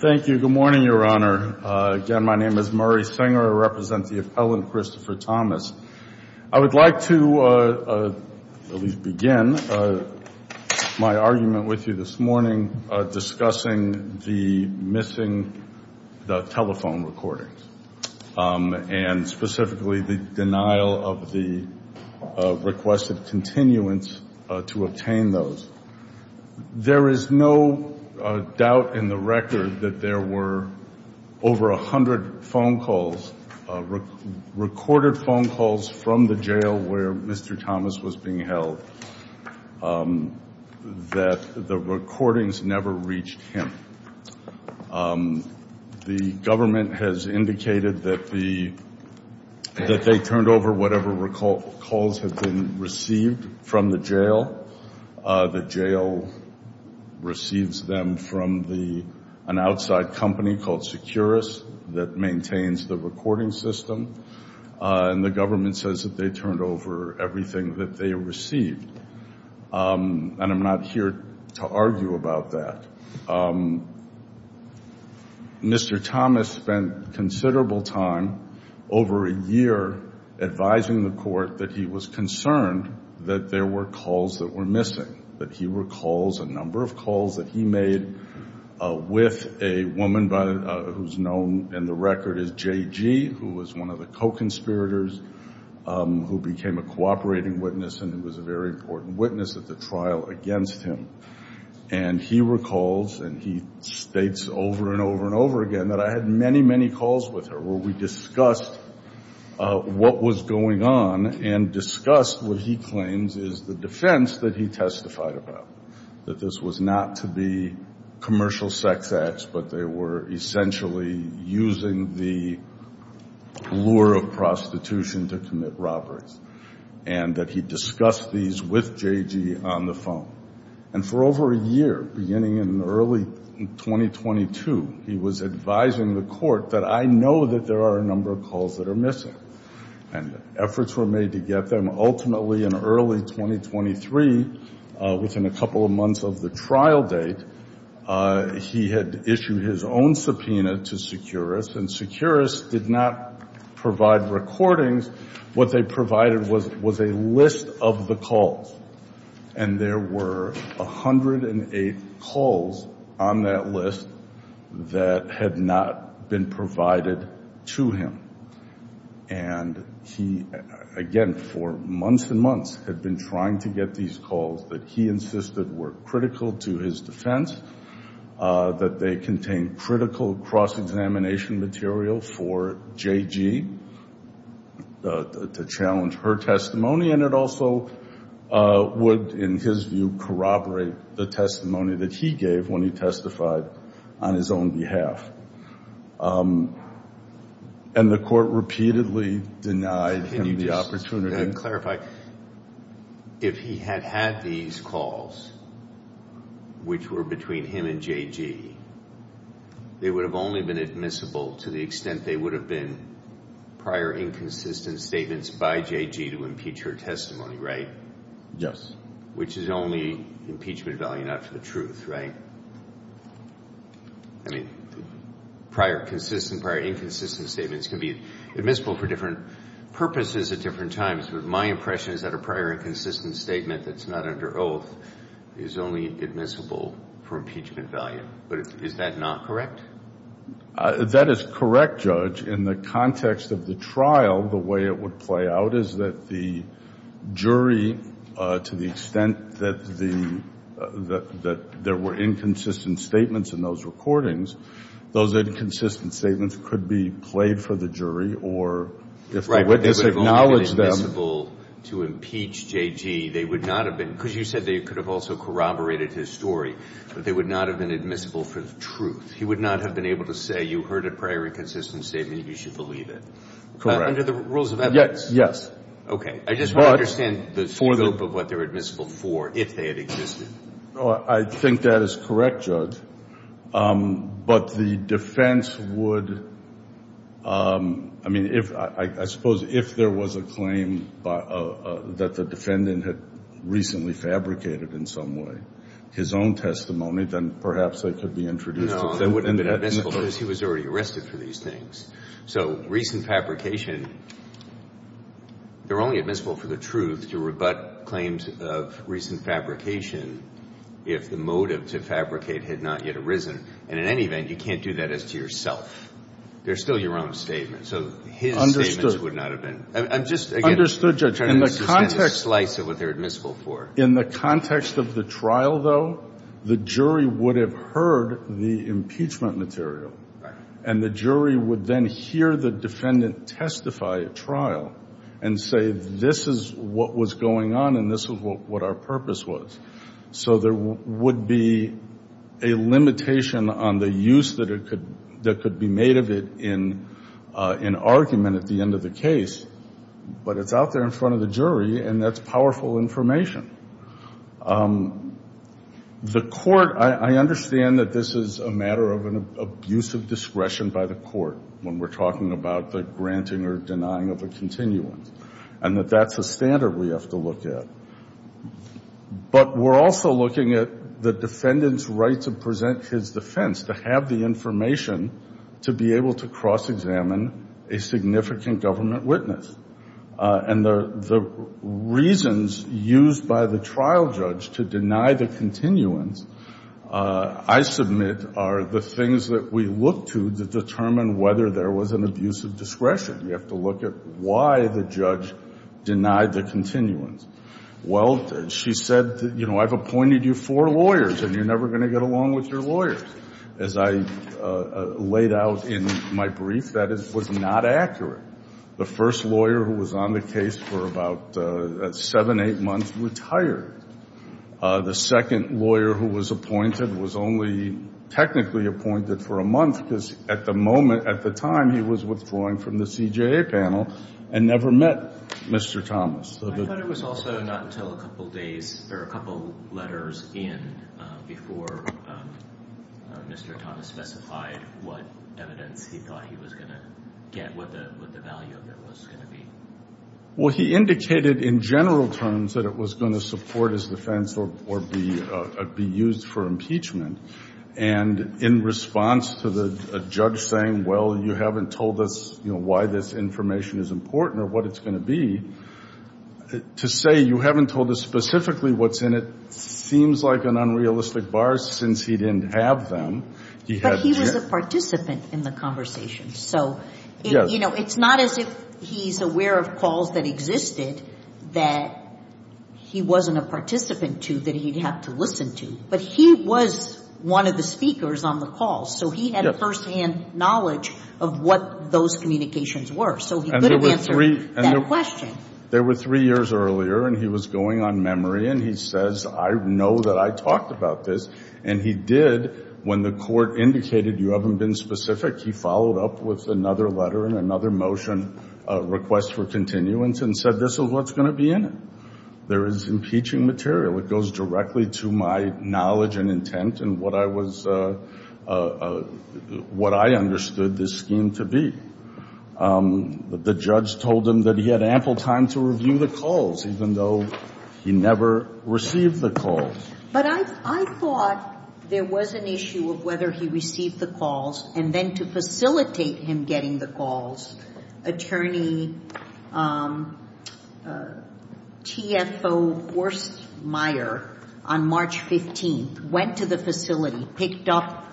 Thank you. Good morning, Your Honor. Again, my name is Murray Singer. I represent the appellant Christopher Thomas. I would like to at least begin my argument with you this morning discussing the missing telephone recordings and specifically the denial of the requested continuance to obtain those. There is no doubt in the record that there were over a hundred phone calls, recorded phone calls from the jail where Mr. Thomas was being held, that the recordings never reached him. The government has indicated that they turned over whatever calls had been received from the jail. The jail receives them from an outside company called Securus that maintains the recording system. And the government says that they turned over everything that they received. And I'm not here to argue about that. Mr. Thomas spent considerable time over a year advising the court that he was concerned that there were calls that were missing, that he recalls a number of calls that he made with a woman who's known in the record as JG, who was one of the co-conspirators, who became a cooperating witness and was a very important witness at the trial against him. And he recalls and he states over and over again that I had many, many calls with her where we discussed what was going on and discussed what he claims is the defense that he testified about, that this was not to be commercial sex acts, but they were essentially using the lure of prostitution to commit robberies, and that he discussed these with JG on the phone. And for over a year, beginning in early 2022, he was advising the court that I know that there are a number of calls that are missing. And efforts were made to get them. Ultimately, in early 2023, within a couple of months of the trial date, he had issued his own subpoena to Securus, and Securus did not provide recordings. What they provided was a list of the calls. And there were 108 calls on that list that had not been provided to him. And he, again, for months and months, had been trying to get these calls that he insisted were critical to his defense, that they contained critical cross-examination material for JG to challenge her testimony. And it also would, in his view, corroborate the testimony that he gave when he testified on his own behalf. And the court repeatedly denied him the calls, which were between him and JG. They would have only been admissible to the extent they would have been prior inconsistent statements by JG to impeach her testimony, right? Yes. Which is only impeachment value, not for the truth, right? I mean, prior consistent, prior inconsistent statements can be purposes at different times. But my impression is that a prior inconsistent statement that's not under oath is only admissible for impeachment value. But is that not correct? That is correct, Judge. In the context of the trial, the way it would play out is that the jury, to the extent that the there were inconsistent statements in those recordings, those inconsistent statements could be played for the jury or if the witness acknowledged them. Right, they would have only been admissible to impeach JG. They would not have been, because you said they could have also corroborated his story, but they would not have been admissible for the truth. He would not have been able to say, you heard a prior inconsistent statement, you should believe it. Correct. Under the rules of evidence? Yes. Okay. I just don't understand the scope of what they're admissible for if they had existed. I think that is correct, Judge. But the defense would, I mean, I suppose if there was a claim that the defendant had recently fabricated in some way, his own testimony, then perhaps they could be introduced. No, they wouldn't have been admissible because he was already arrested for these things. So recent fabrication, they're only admissible for the truth to rebut claims of recent fabrication if the motive to fabricate had not yet arisen. And in any event, you can't do that as to yourself. They're still your own statements. So his statements would not have been. Understood. I'm just, again, trying to understand the slice of what they're admissible for. In the context of the trial, though, the jury would have heard the impeachment material and the jury would then hear the defendant testify at trial and say, this is what was going on and this is what our purpose was. So there would be a limitation on the use that could be made of it in argument at the end of the case. But it's out there in front of the jury and that's powerful information. The court, I understand that this is a matter of an abusive discretion by the court when we're talking about the granting or denying of a continuance and that that's a standard we have to look at. But we're also looking at the defendant's right to present his defense, to have the information to be able to cross-examine a significant government witness. And the reasons used by the trial judge to deny the continuance, I submit, are the things that we look to to determine whether there was an abusive discretion. We have to look at why the judge denied the continuance. Well, she said, you know, I've appointed you four lawyers and you're never going to get along with your lawyers. As I laid out in my brief, that was not accurate. The first lawyer who was on the case for about seven, eight months retired. The second lawyer who was appointed was only technically appointed for a month because at the moment, at the time, he was withdrawing from the CJA panel and never met Mr. Thomas. I thought it was also not until a couple days or a couple letters in before Mr. Thomas specified what evidence he thought he was going to get, what the value of it was going to be. Well, he indicated in general terms that it was going to support his defense or be used for impeachment. And in response to the judge saying, well, you haven't told us why this information is important or what it's going to be, to say you haven't told us specifically what's in it seems like an unrealistic bar since he didn't have them. But he was a participant in the conversation. So, you know, it's not as if he's aware of calls that existed that he wasn't a participant to that he'd have to listen to. But he was one of the speakers on the call. So he had a firsthand knowledge of what those communications were. And there were three years earlier and he was going on memory and he says, I know that I talked about this. And he did. When the court indicated you haven't been specific, he followed up with another letter and another motion request for continuance and said, this is what's going to be in it. There is impeaching material. It goes directly to my knowledge and intent and what I was, what I understood this scheme to be. The judge told him that he had ample time to review the calls, even though he never received the calls. But I thought there was an issue of whether he received the calls and then to facilitate him getting the calls. Attorney TFO Wurstmeier on March 15th went to the facility, picked up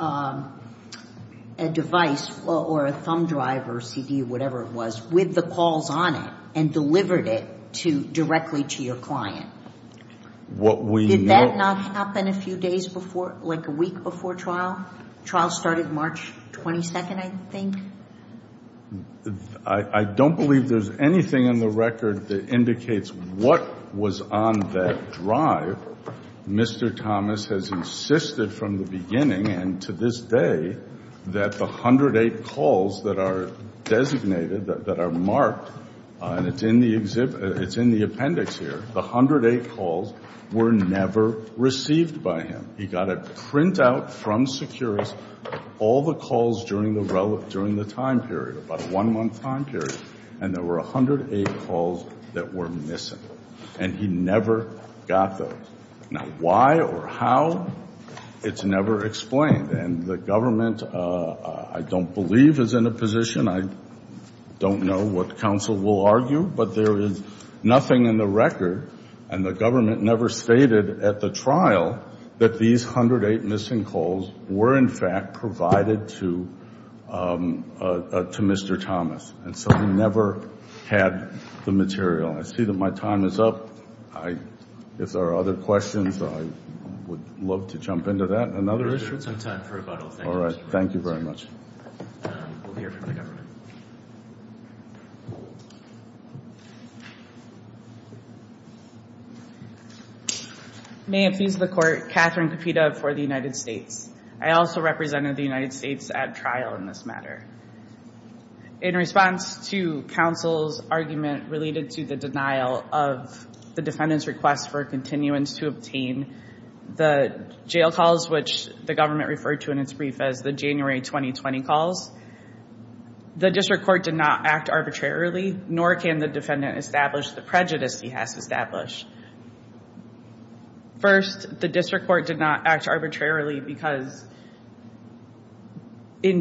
a device or a thumb drive or CD or whatever it was with the calls on it and delivered it to directly to your client. Did that not happen a few days before, like a week before trial? Trial started March 22nd, I think. I don't believe there's anything in the record that indicates what was on that drive. Mr. Thomas has insisted from the beginning and to this day that the 108 calls that are designated, that are marked and it's in the appendix here, the 108 calls were never received by him. He got a printout from Securus, all the calls during the time period, about a one-month time period, and there were 108 calls that were missing. And he never got those. Now, why or how, it's never explained. And the government, I don't believe, is in a position, I don't know what counsel will argue, but there is nothing in the record and the government never stated at the trial that these 108 missing calls were in fact provided to Mr. Thomas. And so he never had the material. I see that my time is up. If there are other questions, I would love to jump into that. Another issue? There's been some time for rebuttal. Thank you. All right. Thank you very much. We'll hear from the government. May it please the court, Catherine Capita for the United States. I also represented the United States at trial in this matter. In response to counsel's argument related to the denial of the defendant's request for continuance to obtain the jail calls, which the government referred to in its brief as the January 2020 calls, the district court did not act arbitrarily, nor can the defendant establish the prejudice he has established. First, the district court did not act arbitrarily because by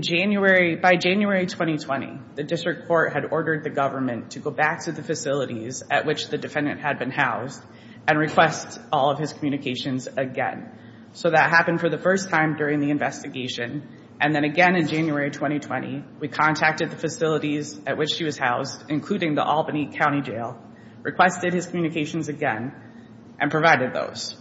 January 2020, the district court had ordered the government to go back to the facilities at which the defendant had been housed and request all of his communications again. So that happened for the first time during the investigation. And then again, in January 2020, we contacted the facilities at which she was housed, including the Albany County Jail, requested his communications again and provided those.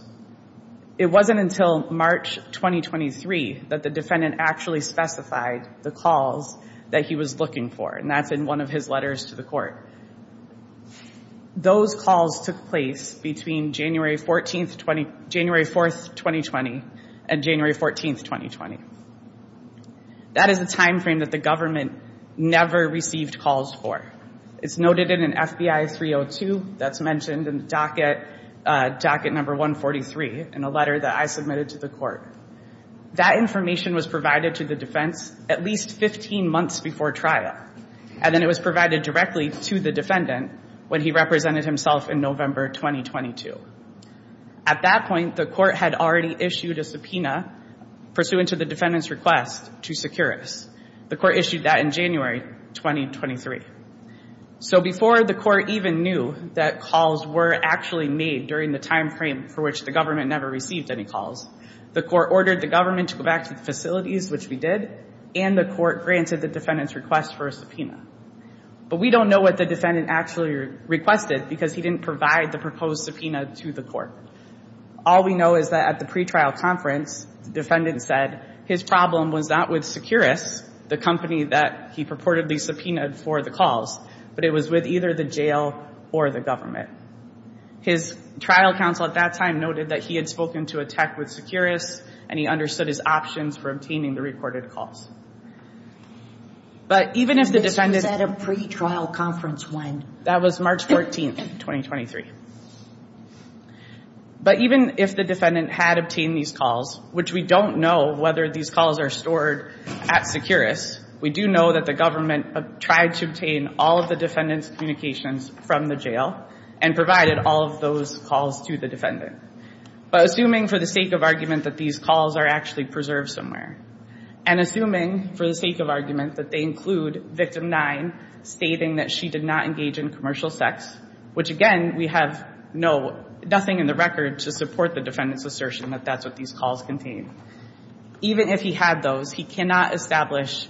It wasn't until March 2023 that the defendant actually specified the calls that he was looking for. And that's in one of his letters to the court. Those calls took place between January 14th, January 4th, 2020 and January 14th, 2020. That is a timeframe that the government never received calls for. It's noted in an FBI 302 that's mentioned in the docket, docket number 143 in a letter that I submitted to the court. That information was provided to the defense at least 15 months before trial. And then it was provided directly to the defendant when he represented himself in November 2022. At that point, the court had already issued a subpoena pursuant to the defendant's request to secure us. The court issued that in January 2023. So before the court even knew that calls were actually made during the timeframe for which the government never received any calls, the court ordered the government to go back to the facilities, which we did, and the court granted the defendant's request for a subpoena. But we don't know what the defendant actually requested because he didn't provide the proposed subpoena to the court. All we know is that at the pre-trial conference, the defendant said his problem was not with Securus, the company that he purportedly subpoenaed for the calls, but it was with either the jail or the government. His trial counsel at that time noted that he had spoken to a tech with Securus and he understood his options for obtaining the recorded calls. But even if the defendant said a pre-trial conference, when that was March 14th, 2023. But even if the defendant had obtained these calls, which we don't know whether these calls are stored at Securus, we do know that the government tried to obtain all of the defendant's communications from the jail and provided all of those calls to the defendant. But assuming for the sake of argument that these calls are actually preserved somewhere, and assuming for the sake of argument that they include victim nine stating that she did not engage in commercial sex, which again, we have no, nothing in the record to support the defendant's assertion that that's what these calls contained. Even if he had those, he cannot establish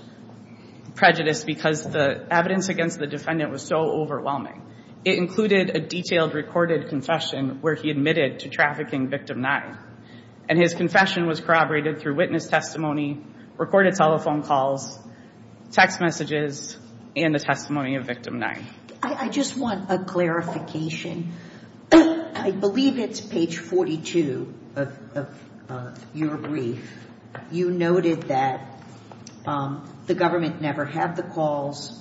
prejudice because the evidence against the defendant was so overwhelming. It included a detailed recorded confession where he admitted to trafficking victim nine. And his confession was corroborated through witness testimony, recorded telephone calls, text messages, and the testimony of victim nine. I just want a clarification. I believe it's page 42 of your brief. You noted that the government never had the calls.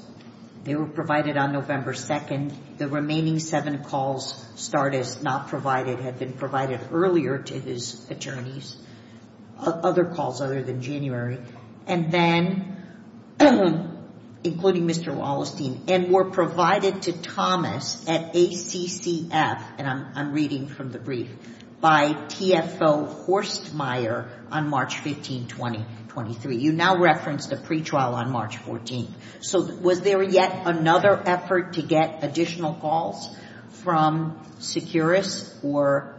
They were provided on November 2nd. The remaining seven calls, Stardust, not provided, had been provided earlier to his attorneys, other calls other than January. And then, including Mr. Wallenstein, and were provided to Thomas at ACCF, and I'm reading from the brief, by TFO Horstmeyer on March 15, 2023. You now referenced a pretrial on March 14th. So was there yet another effort to get additional calls from Securus or?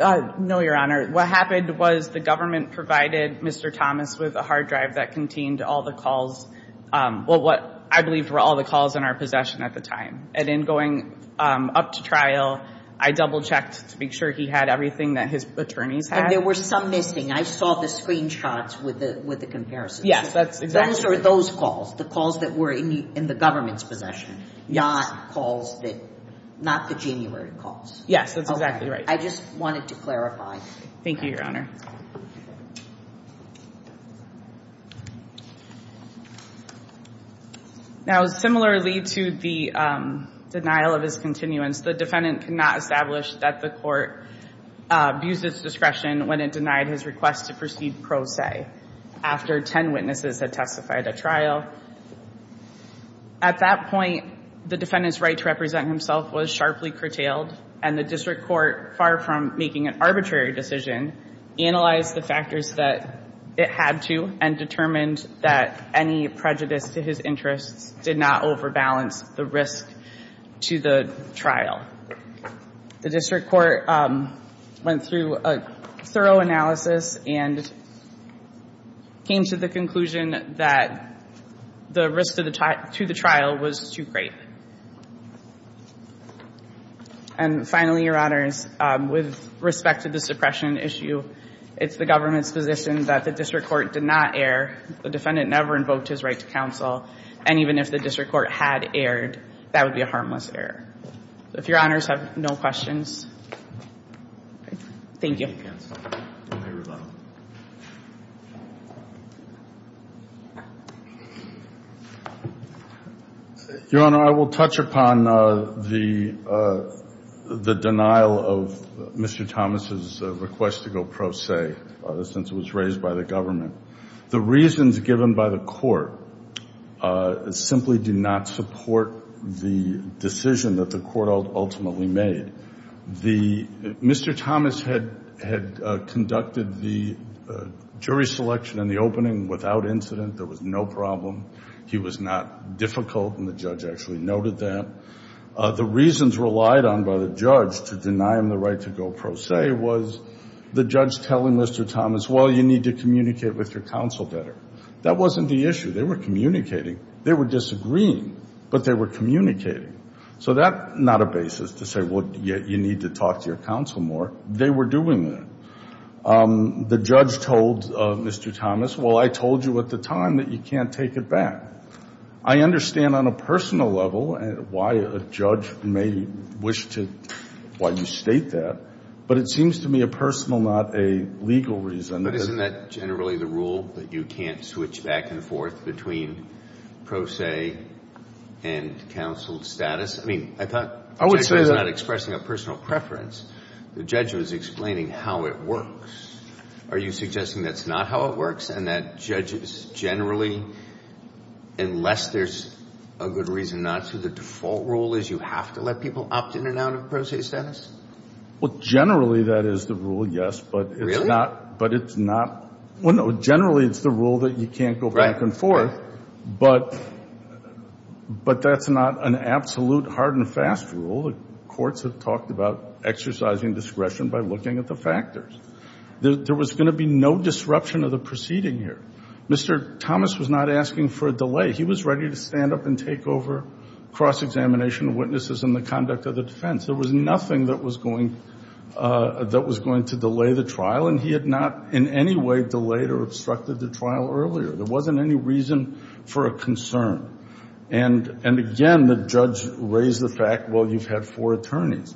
No, Your Honor. What happened was the government provided Mr. Thomas with a hard drive that contained all the calls, well, what I believe were all the calls in our possession at the time. And in going up to trial, I double-checked to make sure he had everything that his attorneys had. And there were some missing. I saw the screenshots with the comparisons. Yes, that's exactly right. Those are those calls, the calls that were in the government's possession, not calls that, not the January calls. Yes, that's exactly right. I just wanted to clarify. Thank you, Your Honor. Now, similarly to the denial of his continuance, the defendant could not establish that the court abused its discretion when it denied his request to proceed pro se after 10 witnesses had testified at trial. At that point, the defendant's right to represent himself was sharply curtailed, and the district court, far from making an arbitrary decision, analyzed the factors that it had to and determined that any prejudice to his interests did not overbalance the risk to the trial. The district court went through a thorough analysis and came to the conclusion that the risk to the trial was too great. And finally, Your Honors, with respect to the suppression issue, it's the government's position that the district court did not err. The defendant never invoked his right to counsel. And even if the district court had erred, that would be a harmless error. If Your Honors have no questions. Thank you. Your Honor, I will touch upon the denial of Mr. Thomas' request to go pro se since it was raised by the government. The reasons given by the court simply do not support the decision that the court ultimately made. Mr. Thomas had conducted the jury selection in the opening without incident. There was no problem. He was not difficult, and the judge actually noted that. The reasons relied on by the judge to deny him the right to go pro se was the judge telling Mr. Thomas, well, you need to communicate with your counsel better. That wasn't the issue. They were communicating. They were disagreeing, but they were communicating. So that's not a basis to say, well, you need to talk to your counsel more. They were doing that. The judge told Mr. Thomas, well, I told you at the time that you can't take it back. I understand on a personal level why a judge may wish to why you state that, but it seems to me a personal, not a legal reason. But isn't that generally the rule that you can't switch back and forth between pro se and counsel status? I mean, I thought the judge was not expressing a personal preference. The judge was explaining how it works. Are you suggesting that's not how it works and that judges generally, unless there's a good reason not to, the default rule is you have to let people opt in and out of pro se status? Well, generally, that is the rule, yes. Really? But it's not. Well, no, generally it's the rule that you can't go back and forth. But that's not an absolute hard and fast rule. The courts have talked about exercising discretion by looking at the factors. There was going to be no disruption of the proceeding here. Mr. Thomas was not asking for a delay. He was ready to stand up and take over cross-examination of witnesses and the conduct of the defense. There was nothing that was going to delay the trial, and he had not in any way delayed or obstructed the trial earlier. There wasn't any reason for a concern. And, again, the judge raised the fact, well, you've had four attorneys.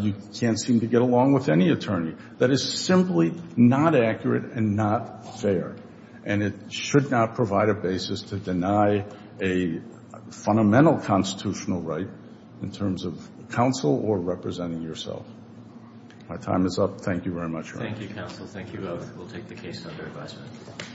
You can't seem to get along with any attorney. That is simply not accurate and not fair, and it should not provide a basis to deny a fundamental constitutional right in terms of counsel or representing yourself. My time is up. Thank you very much. Thank you, counsel. Thank you both. We'll take the case under advisement.